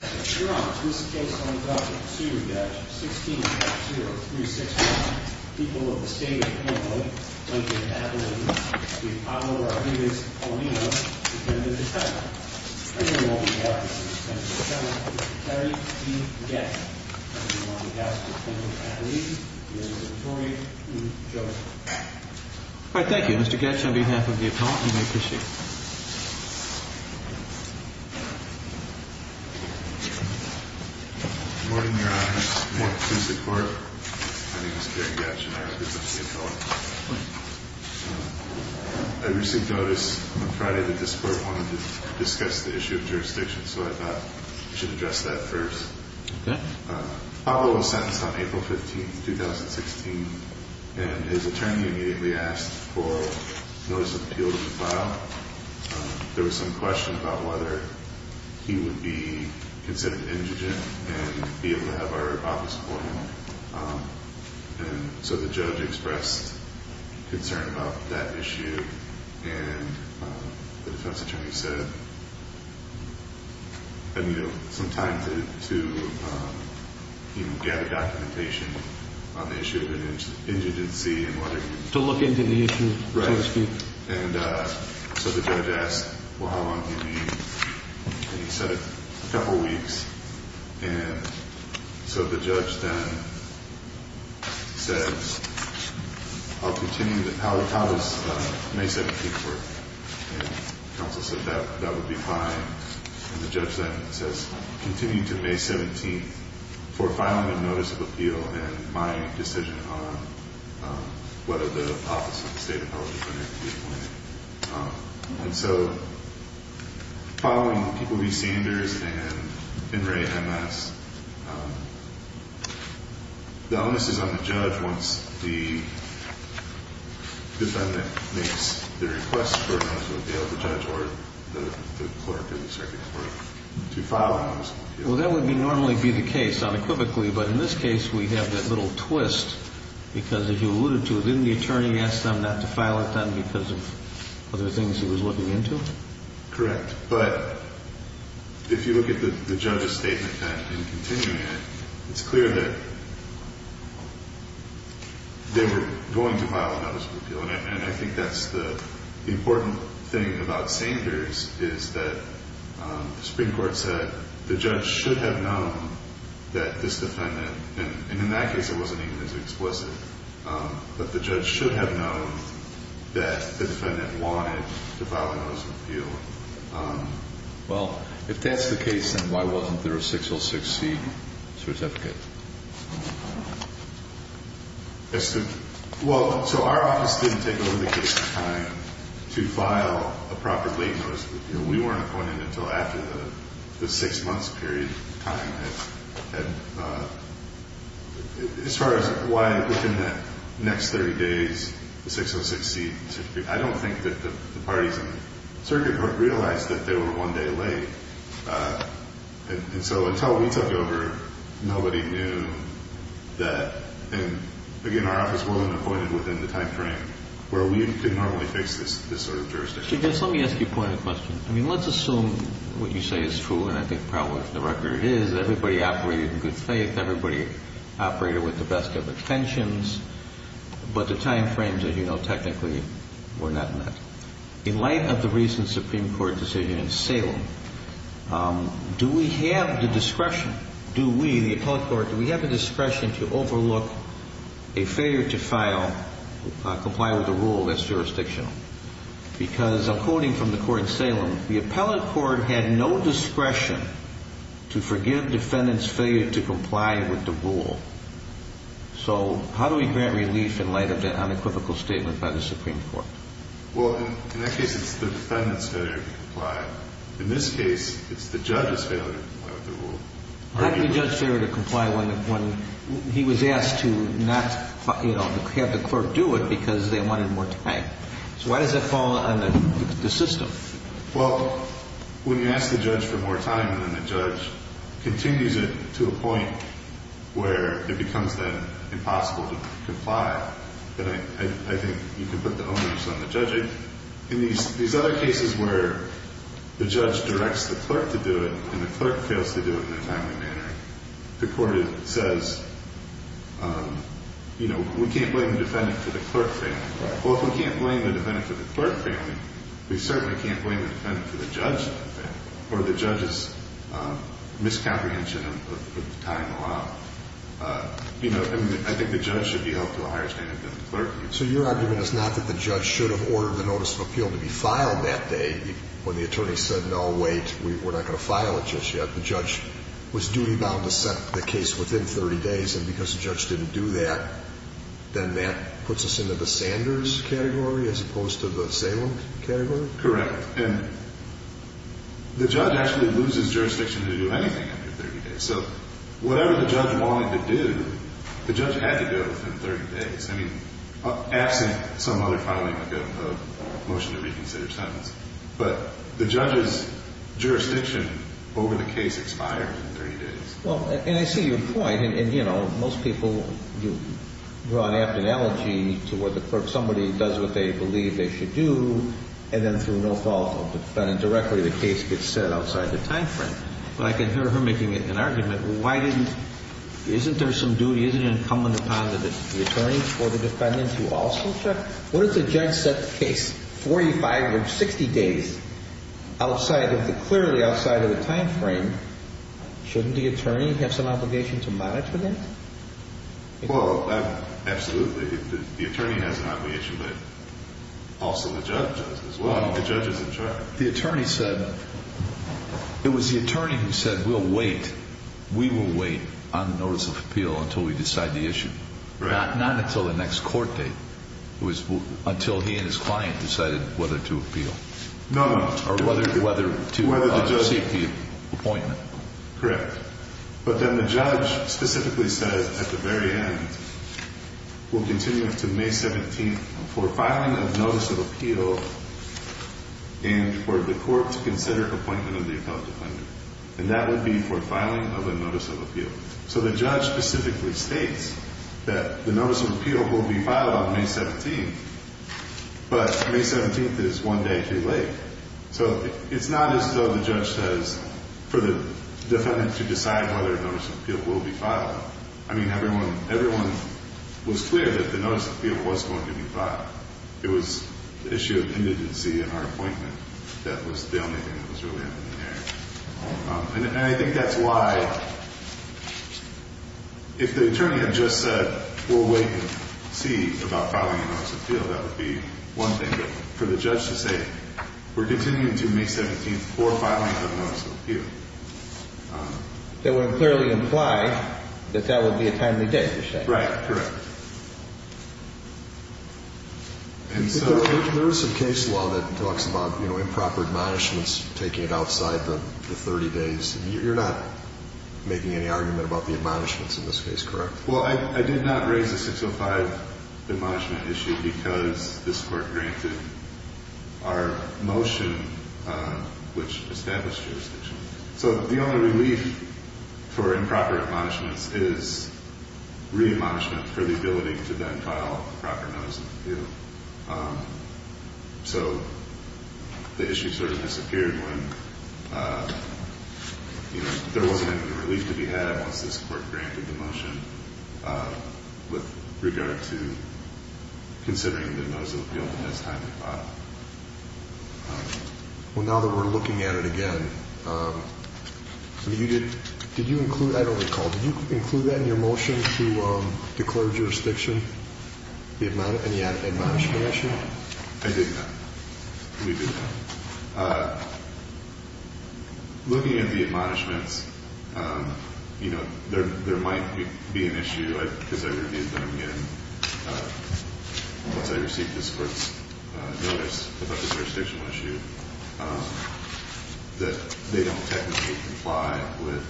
16-0365, people of the state of Illinois, Lincoln, Abilene, the Apollo, Arrhenius, Paulina, Lieutenant General. I hereby welcome the officers, Lieutenant General, Mr. Terry P. Gatch, President of the United States of Illinois, Abilene, Mr. Vittorio, and Joe. All right, thank you. Mr. Gatch, on behalf of the Apollo, you may proceed. Good morning, Your Honor. Good morning to the court. My name is Terry Gatch, and I represent the Apollo. I received notice on Friday that this court wanted to discuss the issue of jurisdiction, so I thought we should address that first. Apollo was sentenced on April 15, 2016, and his attorney immediately asked for notice of appeal to be filed. There was some question about whether he would be considered indigent and be able to have our office court him. And so the judge expressed concern about that issue, and the defense attorney said, you know, some time to gather documentation on the issue of an indigency and whether... To look into the issue, so to speak. Right. And so the judge asked, well, how long do you need? And he said, a couple weeks. And so the judge then said, I'll continue to... How does May 17th work? And counsel said, that would be fine. And the judge then says, continue to May 17th for filing a notice of appeal and my decision on whether the office of the state appellate is going to be appointed. And so following People v. Sanders and In re M.S., the onus is on the judge once the defendant makes the request for a notice of appeal. The judge or the clerk or the circuit clerk to file a notice of appeal. Well, that would normally be the case unequivocally, but in this case we have that little twist, because as you alluded to, didn't the attorney ask them not to file it then because of other things he was looking into? Correct. But if you look at the judge's statement then in continuing it, it's clear that they were going to file a notice of appeal. And I think that's the important thing about Sanders is that the Supreme Court said the judge should have known that this defendant, and in that case it wasn't even as explicit, but the judge should have known that the defendant wanted to file a notice of appeal. Well, if that's the case, then why wasn't there a 606C certificate? Well, so our office didn't take over the case in time to file a proper late notice of appeal. We weren't appointed until after the six months period time had expired. As far as why within the next 30 days the 606C certificate, I don't think that the parties in the circuit court realized that they were one day late. And so until we took over, nobody knew that. And again, our office wasn't appointed within the time frame where we could normally fix this sort of jurisdiction. Let me ask you a point of question. I mean, let's assume what you say is true, and I think probably for the record it is, everybody operated in good faith, everybody operated with the best of intentions, but the time frames, as you know, technically were not met. In light of the recent Supreme Court decision in Salem, do we have the discretion, do we, the appellate court, do we have the discretion to overlook a failure to file, comply with a rule that's jurisdictional? Because according from the court in Salem, the appellate court had no discretion to forgive defendant's failure to comply with the rule. So how do we grant relief in light of that unequivocal statement by the Supreme Court? Well, in that case, it's the defendant's failure to comply. In this case, it's the judge's failure to comply with the rule. How do you judge failure to comply when he was asked to not, you know, have the clerk do it because they wanted more time? So why does that fall under the system? Well, when you ask the judge for more time, then the judge continues it to a point where it becomes, then, impossible to comply. But I think you can put the onus on the judge. In these other cases where the judge directs the clerk to do it and the clerk fails to do it in a timely manner, the court says, you know, we can't blame the defendant for the clerk failing. Well, if we can't blame the defendant for the clerk failing, we certainly can't blame the defendant for the judge failing or the judge's miscomprehension of the time allowed. You know, I think the judge should be held to a higher standard than the clerk. So your argument is not that the judge should have ordered the notice of appeal to be filed that day when the attorney said, no, wait, we're not going to file it just yet. The judge was duty-bound to set the case within 30 days. And because the judge didn't do that, then that puts us into the Sanders category as opposed to the Salem category? Correct. And the judge actually loses jurisdiction to do anything under 30 days. So whatever the judge wanted to do, the judge had to do it within 30 days. I mean, absent some other filing, like a motion to reconsider sentence. But the judge's jurisdiction over the case expired in 30 days. Well, and I see your point. And, you know, most people draw an apt analogy to where the clerk, somebody does what they believe they should do, and then through no fault of the defendant directly, the case gets set outside the time frame. But I can hear her making an argument. Isn't there some duty? Isn't it incumbent upon the attorney or the defendant to also check? What if the judge set the case 45 or 60 days clearly outside of the time frame? Shouldn't the attorney have some obligation to monitor that? Well, absolutely. The attorney has an obligation, but also the judge does as well. The judge is in charge. The attorney said it was the attorney who said we'll wait. We will wait on the notice of appeal until we decide the issue. Right. Not until the next court date. It was until he and his client decided whether to appeal. No, no. Or whether to seek the appointment. Correct. But then the judge specifically said at the very end, we'll continue to May 17th for filing of notice of appeal and for the court to consider appointment of the appellate defendant. And that would be for filing of a notice of appeal. So the judge specifically states that the notice of appeal will be filed on May 17th, but May 17th is one day too late. So it's not as though the judge says for the defendant to decide whether a notice of appeal will be filed. I mean, everyone was clear that the notice of appeal was going to be filed. It was the issue of indigency and our appointment that was the only thing that was really up in the air. And I think that's why if the attorney had just said we'll wait and see about filing a notice of appeal, that would be one thing. But for the judge to say we're continuing to May 17th for filing of notice of appeal. That would clearly imply that that would be a timely date to say. Right, correct. There is some case law that talks about improper admonishments taking it outside the 30 days. You're not making any argument about the admonishments in this case, correct? Well, I did not raise the 605 admonishment issue because this court granted our motion, which established jurisdiction. So the only relief for improper admonishments is re-admonishment for the ability to then file proper notice of appeal. So the issue sort of disappeared when there wasn't any relief to be had once this court granted the motion with regard to considering the notice of appeal the next time it filed. Well, now that we're looking at it again, did you include, I don't recall. Did you include that in your motion to declare jurisdiction? Any admonishment issue? I did not. We did not. Looking at the admonishments, you know, there might be an issue, because I reviewed them again once I received this court's notice about the jurisdictional issue, that they don't technically comply with,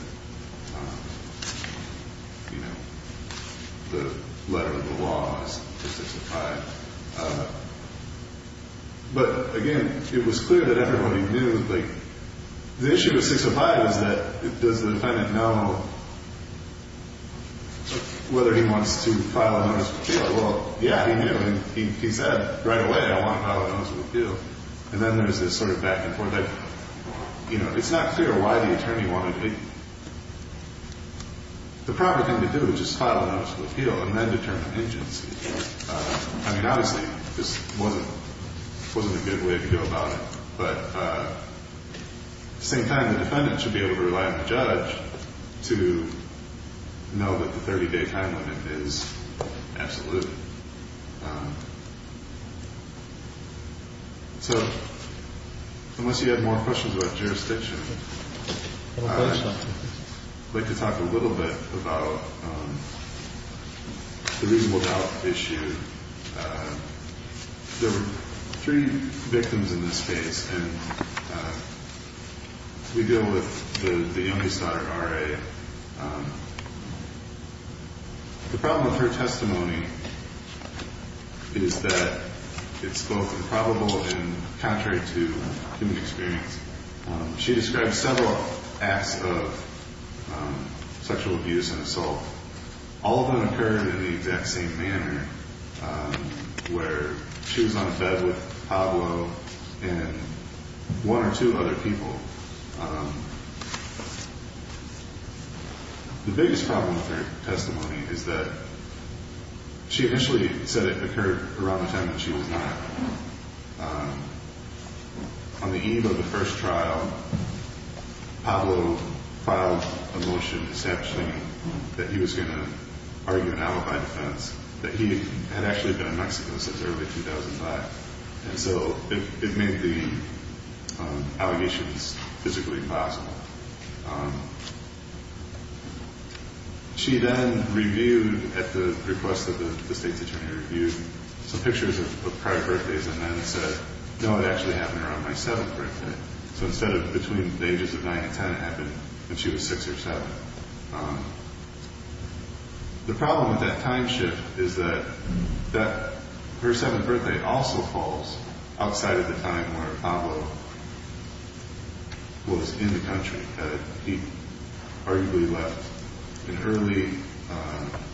you know, the letter of the law as to 605. But, again, it was clear that everybody knew. Like, the issue with 605 is that does the defendant know whether he wants to file a notice of appeal? Well, yeah, he knew, and he said right away, I want to file a notice of appeal. And then there's this sort of back and forth. Like, you know, it's not clear why the attorney wanted me. The proper thing to do is just file a notice of appeal and then determine the pingency. I mean, obviously, this wasn't a good way to go about it. But at the same time, the defendant should be able to rely on the judge to know that the 30-day time limit is absolute. So unless you have more questions about jurisdiction, I'd like to talk a little bit about the reasonable doubt issue. There were three victims in this case, and we deal with the youngest daughter, R.A. The problem with her testimony is that it's both improbable and contrary to human experience. She described several acts of sexual abuse and assault. All of them occurred in the exact same manner, where she was on the bed with Pablo and one or two other people. The biggest problem with her testimony is that she initially said it occurred around the time that she was not. On the eve of the first trial, Pablo filed a motion, essentially, that he was going to argue an alibi defense, that he had actually been in Mexico since early 2005. And so it made the allegations physically impossible. She then reviewed, at the request of the state's attorney, reviewed some pictures of prior birthdays and then said, no, it actually happened around my seventh birthday. So instead of between the ages of 9 and 10, it happened when she was 6 or 7. The problem with that time shift is that her seventh birthday also falls outside of the time where Pablo was in the country. He arguably left in early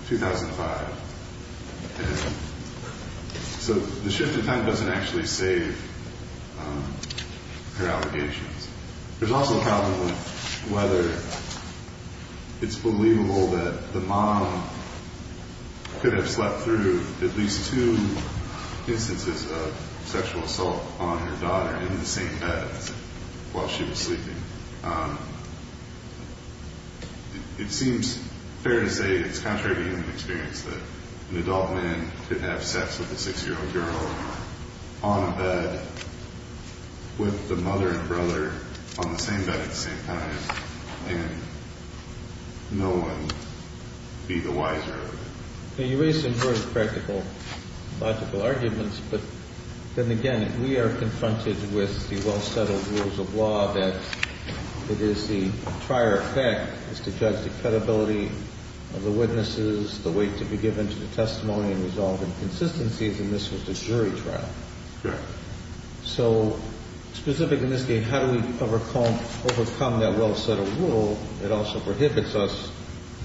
2005. And so the shift in time doesn't actually save her allegations. There's also a problem with whether it's believable that the mom could have slept through at least two instances of sexual assault on her daughter in the same bed while she was sleeping. It seems fair to say it's contrary to human experience that an adult man could have sex with a 6-year-old girl on a bed with the mother and brother on the same bed at the same time and no one be the wiser of it. You raise some very practical, logical arguments. But then again, we are confronted with the well-settled rules of law that it is the prior effect is to judge the credibility of the witnesses, the weight to be given to the testimony and resolve inconsistencies. And this was a jury trial. So specifically in this case, how do we overcome that well-settled rule that also prohibits us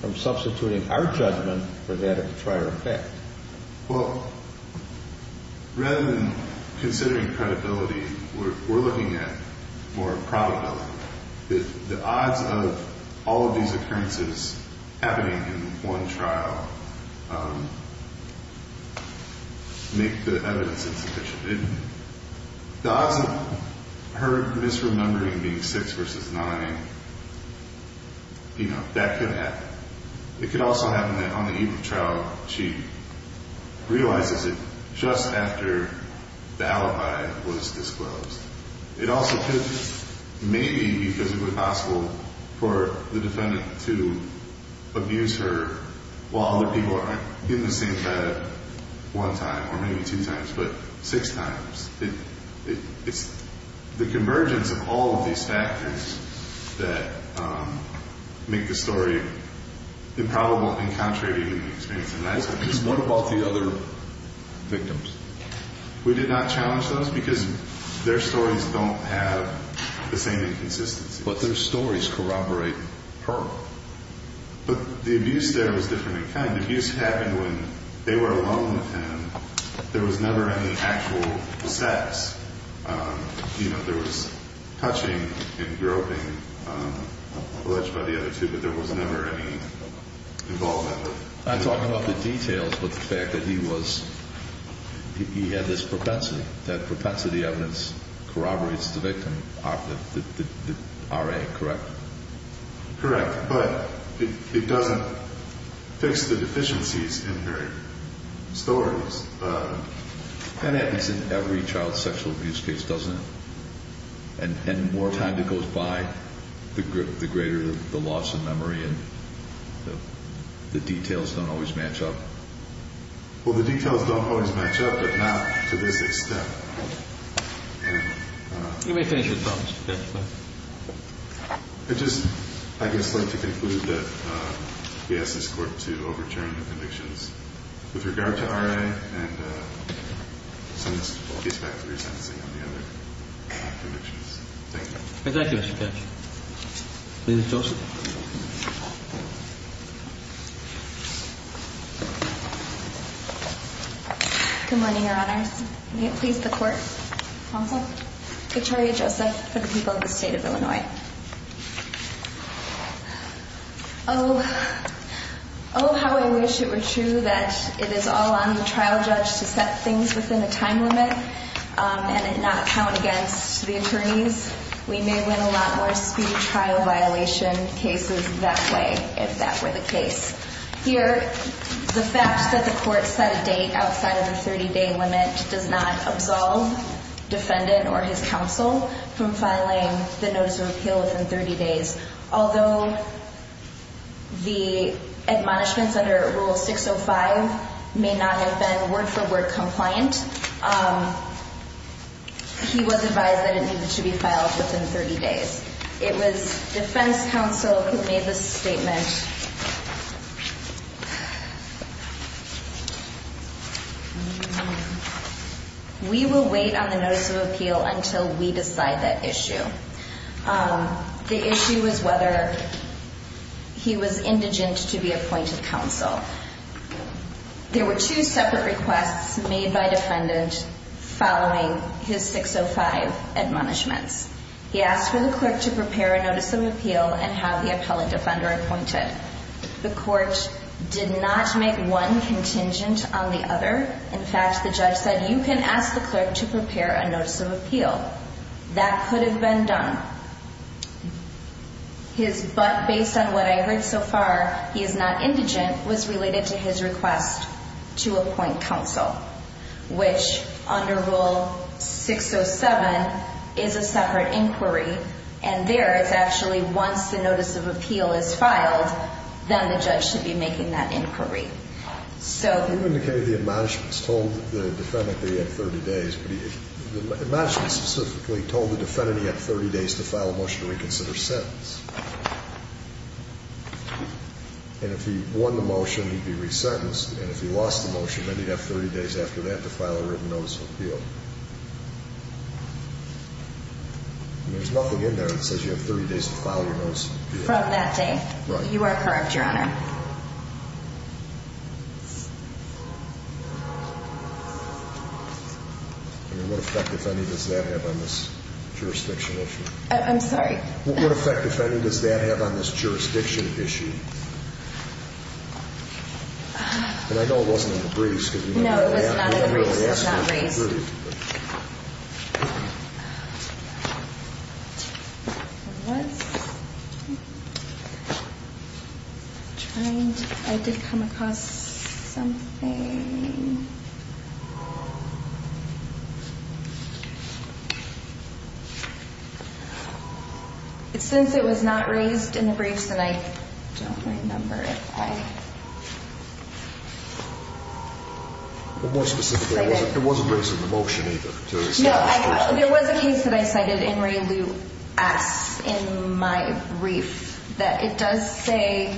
from substituting our judgment for that of the jury? Well, rather than considering credibility, we're looking at more probability. The odds of all of these occurrences happening in one trial make the evidence insufficient. The odds of her misremembering being 6 versus 9, you know, that could happen. It could also happen that on the evening trial, she realizes it just after the alibi was disclosed. It also could maybe be physically possible for the defendant to abuse her while other people aren't in the same bed one time or maybe two times but six times. It's the convergence of all of these factors that make the story improbable and contrary to even the experience of an eyewitness. What about the other victims? We did not challenge those because their stories don't have the same inconsistency. But their stories corroborate her. But the abuse there was different in kind. The abuse happened when they were alone with him. There was never any actual sex. You know, there was touching and groping alleged by the other two, but there was never any involvement. I'm talking about the details but the fact that he had this propensity, that propensity evidence corroborates the victim, the RA, correct? Correct. But it doesn't fix the deficiencies in her stories. That happens in every child sexual abuse case, doesn't it? And the more time that goes by, the greater the loss of memory and the details don't always match up. Well, the details don't always match up, but not to this extent. You may finish your thoughts. I'd just, I guess, like to conclude that we ask this court to overturn the convictions with regard to RA and send this case back to re-sentencing on the other convictions. Thank you. Thank you, Mr. Ketcham. Ms. Joseph. Good morning, Your Honor. May it please the Court. Counsel. Katariya Joseph for the people of the State of Illinois. Oh, how I wish it were true that it is all on the trial judge to set things within a time limit and not count against the attorneys. We may win a lot more speedy trial violation cases that way if that were the case. Here, the fact that the court set a date outside of the 30-day limit does not absolve defendant or his counsel from filing the notice of appeal within 30 days. Although the admonishments under Rule 605 may not have been word-for-word compliant, he was advised that it needed to be filed within 30 days. It was defense counsel who made the statement, We will wait on the notice of appeal until we decide that issue. The issue was whether he was indigent to be appointed counsel. There were two separate requests made by defendant following his 605 admonishments. He asked for the clerk to prepare a notice of appeal and have the appellant defender appointed. The court did not make one contingent on the other. In fact, the judge said, you can ask the clerk to prepare a notice of appeal. That could have been done. His but, based on what I heard so far, he is not indigent, was related to his request to appoint counsel, which under Rule 607 is a separate inquiry. And there, it's actually once the notice of appeal is filed, then the judge should be making that inquiry. You indicated the admonishments told the defendant that he had 30 days. The admonishments specifically told the defendant he had 30 days to file a motion to reconsider sentence. And if he won the motion, he'd be resentenced. And if he lost the motion, then he'd have 30 days after that to file a written notice of appeal. There's nothing in there that says you have 30 days to file your notice of appeal. From that day. Well, you are correct, Your Honor. And what effect, if any, does that have on this jurisdiction issue? I'm sorry? What effect, if any, does that have on this jurisdiction issue? And I know it wasn't in the briefs. No, it was not in the briefs. It's not in the briefs. I don't remember. What? Trying to, I did come across something. Since it was not raised in the briefs, and I don't remember if I. It wasn't raised in the motion either. No, there was a case that I cited in my brief that it does say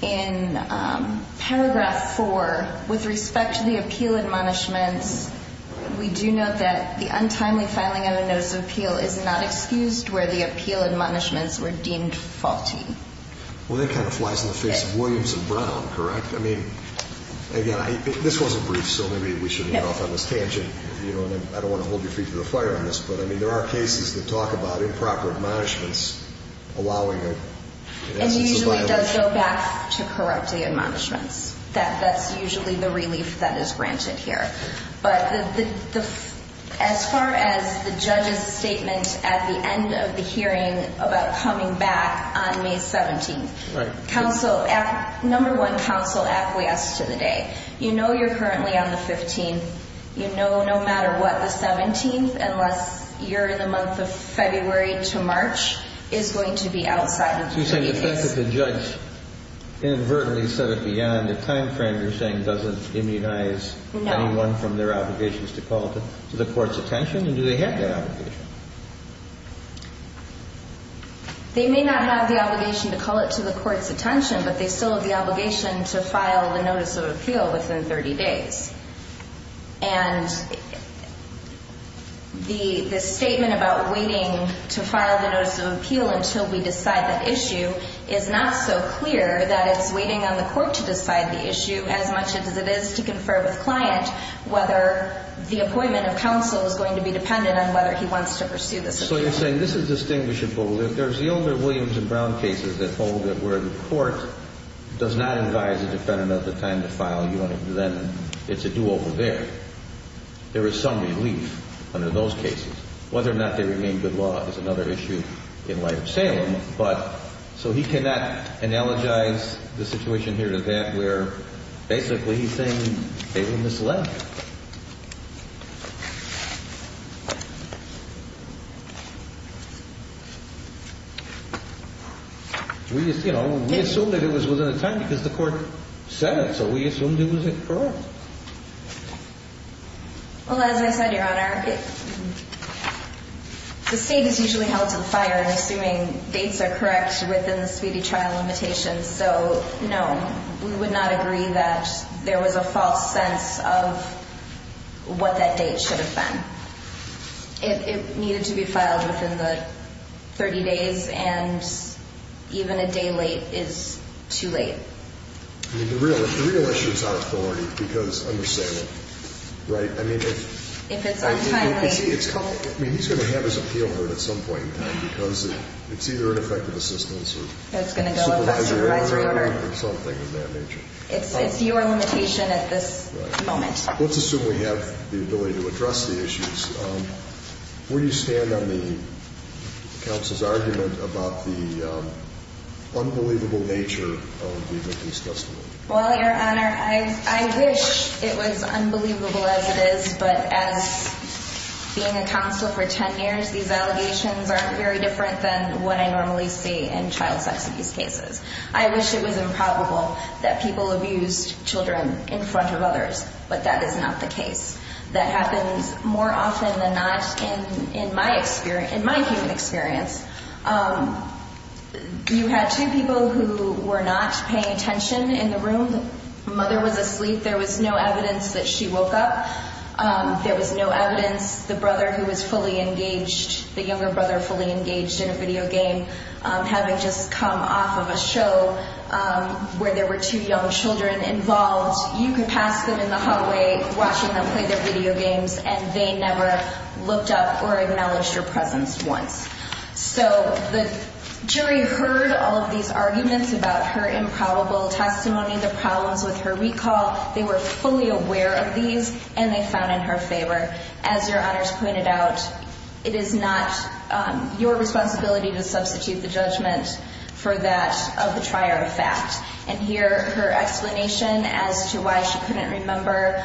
in paragraph 4, with respect to the appeal admonishments, we do note that the untimely filing of a notice of appeal is not excused where the appeal admonishments were deemed faulty. Well, that kind of flies in the face of Williams and Brown, correct? Again, this was a brief, so maybe we shouldn't get off on this tangent. I don't want to hold your feet to the fire on this, but there are cases that talk about improper admonishments allowing an absence of violation. And usually does go back to correct the admonishments. That's usually the relief that is granted here. But as far as the judge's statement at the end of the hearing about coming back on May 17th, number one, counsel acquiesced to the day. You know you're currently on the 15th. You know no matter what the 17th, unless you're in the month of February to March, is going to be outside of the 30 days. You're saying the fact that the judge inadvertently said it beyond the time frame, you're saying doesn't immunize anyone from their obligations to call to the court's attention? And do they have that obligation? They may not have the obligation to call it to the court's attention, but they still have the obligation to file the notice of appeal within 30 days. And the statement about waiting to file the notice of appeal until we decide that issue is not so clear that it's waiting on the court to decide the issue as much as it is to confer with client whether the appointment of counsel is going to be dependent on whether he wants to pursue this appeal. So you're saying this is distinguishable. There's the older Williams and Brown cases that hold that where the court does not advise a defendant of the time to file, then it's a do-over there. There is some relief under those cases. Whether or not they remain good law is another issue in light of Salem. So he cannot analogize the situation here to that where basically he's saying they were misled. We assumed that it was within the time because the court said it, so we assumed it was correct. Well, as I said, Your Honor, the state is usually held to the fire in assuming dates are correct within the speedy trial limitations. So, no, we would not agree that there was a false sense of what that date should have been. It needed to be filed within the 30 days, and even a day late is too late. I mean, the real issue is our authority because under Salem, right? I mean, he's going to have his appeal heard at some point in time because it's either ineffective assistance or supervisor order or something of that nature. It's your limitation at this moment. Let's assume we have the ability to address the issues. Where do you stand on the counsel's argument about the unbelievable nature of the abuse testimony? Well, Your Honor, I wish it was unbelievable as it is, but as being a counsel for 10 years, these allegations aren't very different than what I normally see in child sex abuse cases. I wish it was improbable that people abused children in front of others, but that is not the case. That happens more often than not in my human experience. You had two people who were not paying attention in the room. The mother was asleep. There was no evidence that she woke up. There was no evidence the brother who was fully engaged, the younger brother fully engaged in a video game, having just come off of a show where there were two young children involved. You could pass them in the hallway watching them play their video games, and they never looked up or acknowledged your presence once. So the jury heard all of these arguments about her improbable testimony, the problems with her recall. They were fully aware of these, and they found in her favor. As Your Honors pointed out, it is not your responsibility to substitute the judgment for that of the trier of fact. And here, her explanation as to why she couldn't remember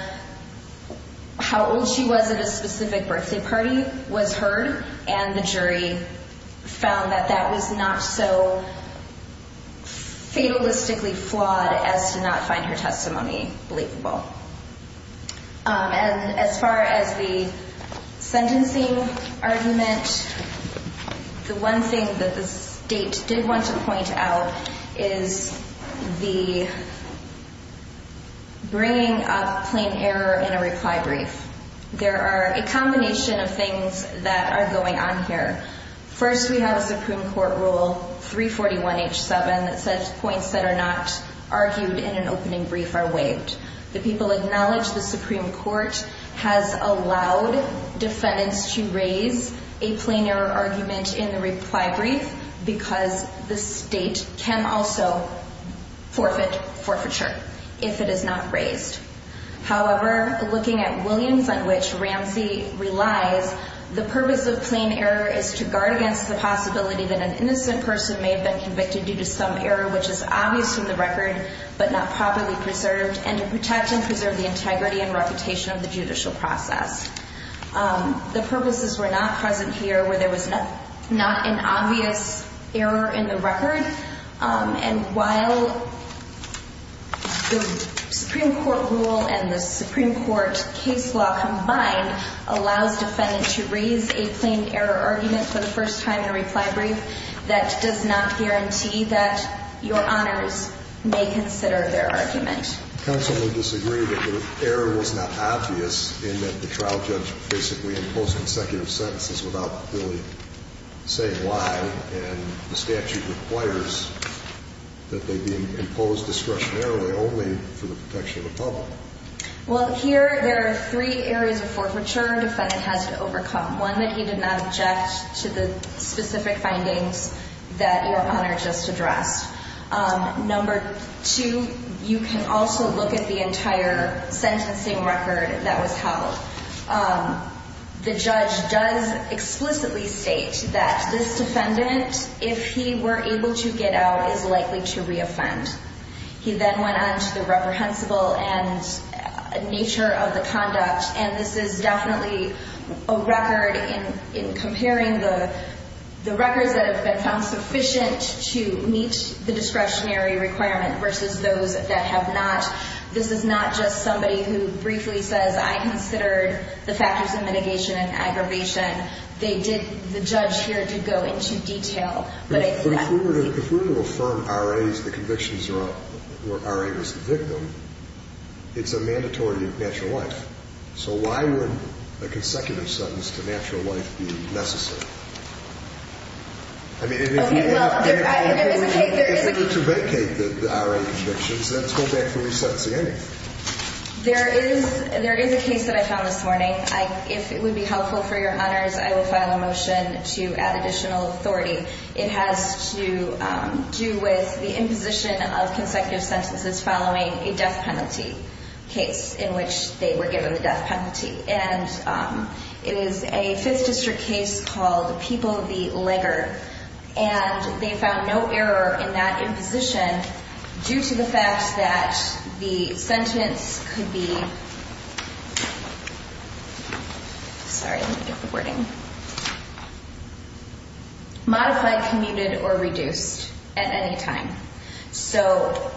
how old she was at a specific birthday party was heard, and the jury found that that was not so fatalistically flawed as to not find her testimony believable. And as far as the sentencing argument, the one thing that the State did want to point out is the bringing up plain error in a reply brief. There are a combination of things that are going on here. First, we have a Supreme Court rule, 341H7, that says points that are not argued in an opening brief are waived. The people acknowledge the Supreme Court has allowed defendants to raise a plain error argument in the reply brief because the State can also forfeit forfeiture if it is not raised. However, looking at Williams, on which Ramsey relies, the purpose of plain error is to guard against the possibility that an innocent person may have been convicted due to some error, which is obvious from the record but not properly preserved, and to protect and preserve the integrity and reputation of the judicial process. The purposes were not present here where there was not an obvious error in the record. And while the Supreme Court rule and the Supreme Court case law combined allows defendants to raise a plain error argument for the first time in a reply brief, that does not guarantee that your honors may consider their argument. Counsel would disagree that the error was not obvious in that the trial judge basically imposed consecutive sentences without really saying why, and the statute requires that they be imposed discretionarily only for the protection of the public. Well, here there are three areas of forfeiture a defendant has to overcome, one that he did not object to the specific findings that your honor just addressed. Number two, you can also look at the entire sentencing record that was held. The judge does explicitly state that this defendant, if he were able to get out, is likely to re-offend. He then went on to the reprehensible and nature of the conduct, and this is definitely a record in comparing the records that have been found sufficient to meet the discretionary requirement versus those that have not. This is not just somebody who briefly says, I considered the factors of mitigation and aggravation. They did, the judge here did go into detail. If we were to affirm R.A. as the conviction where R.A. was the victim, it's a mandatory natural life. So why would a consecutive sentence to natural life be necessary? I mean, if we want to medicate the R.A. convictions, then let's go back to re-sentencing anyway. There is a case that I found this morning. If it would be helpful for your honors, I will file a motion to add additional authority. It has to do with the imposition of consecutive sentences following a death penalty case in which they were given the death penalty. And it is a 5th District case called People v. Legger. And they found no error in that imposition due to the fact that the sentence could be modified, commuted, or reduced at any time. So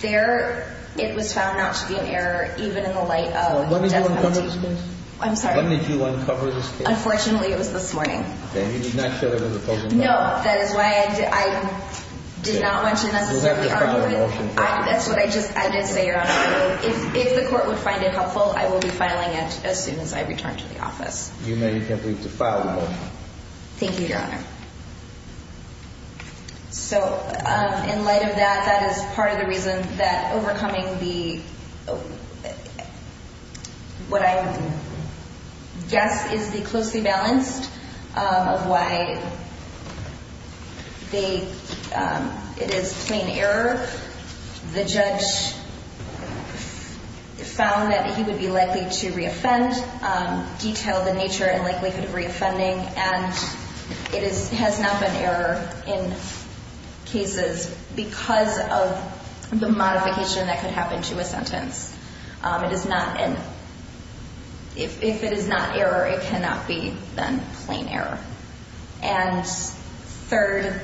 there, it was found not to be an error even in the light of death penalty. When did you uncover this case? I'm sorry? When did you uncover this case? Unfortunately, it was this morning. Okay, and you did not show it in the closing? No, that is why I did not want to necessarily argue it. You'll have to file a motion for it. That's what I just, I did say, Your Honor. If the court would find it helpful, I will be filing it as soon as I return to the office. You may attempt to file the motion. Thank you, Your Honor. So, in light of that, that is part of the reason that overcoming the, what I guess is the closely balanced of why they, it is plain error. The judge found that he would be likely to re-offend, detailed the nature and likelihood of re-offending, and it has not been error in cases because of the modification that could happen to a sentence. It is not an, if it is not error, it cannot be then plain error. And third,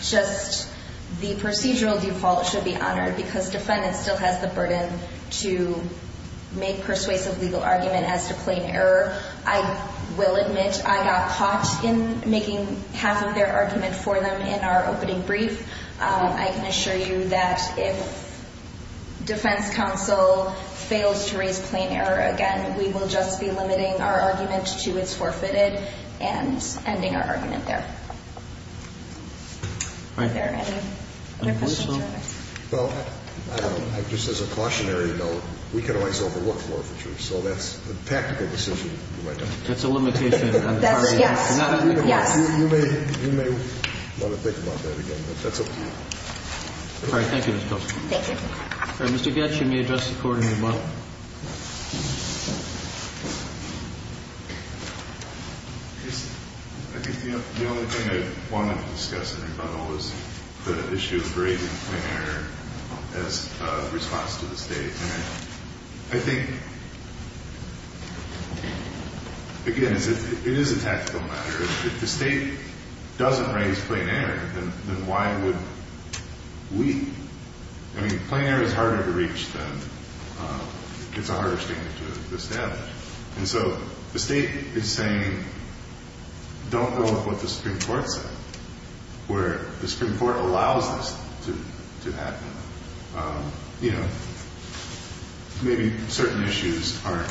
just the procedural default should be honored because defendant still has the burden to make persuasive legal argument as to plain error. I will admit I got caught in making half of their argument for them in our opening brief. I can assure you that if defense counsel fails to raise plain error again, we will just be limiting our argument to it is forfeited. And ending our argument there. All right. Are there any other questions, Your Honor? Well, just as a cautionary note, we can always overlook forfeiture. So that's a tactical decision you might make. That's a limitation on the part of the defense. That's a yes. Yes. You may want to think about that again, but that's up to you. All right. Thank you, Ms. Kelsey. Thank you. All right. Mr. Goetz, you may address the Court in your model. I think the only thing I wanted to discuss in my model was the issue of raising plain error as a response to the State. And I think, again, it is a tactical matter. If the State doesn't raise plain error, then why would we? I mean, plain error is harder to reach than – it's a harder standard to establish. And so the State is saying, don't go with what the Supreme Court said, where the Supreme Court allows this to happen. You know, maybe certain issues aren't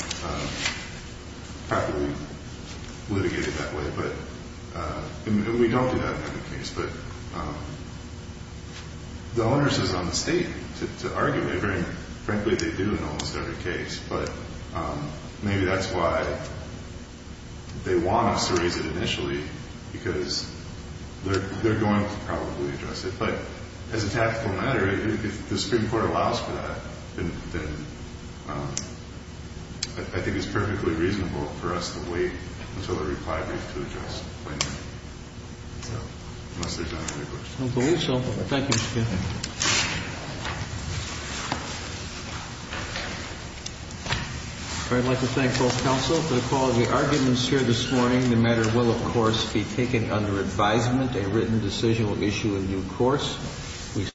properly litigated that way, but – and we don't do that in every case. But the onus is on the State to argue it. And, frankly, they do in almost every case. But maybe that's why they want us to raise it initially, because they're going to probably address it. But as a tactical matter, if the Supreme Court allows for that, then I think it's perfectly reasonable for us to wait until the reply brief to address plain error, unless there's another question. I believe so. Thank you, Mr. Goetz. I'd like to thank both counsel for the quality arguments here this morning. The matter will, of course, be taken under advisement. A written decision will issue a new course.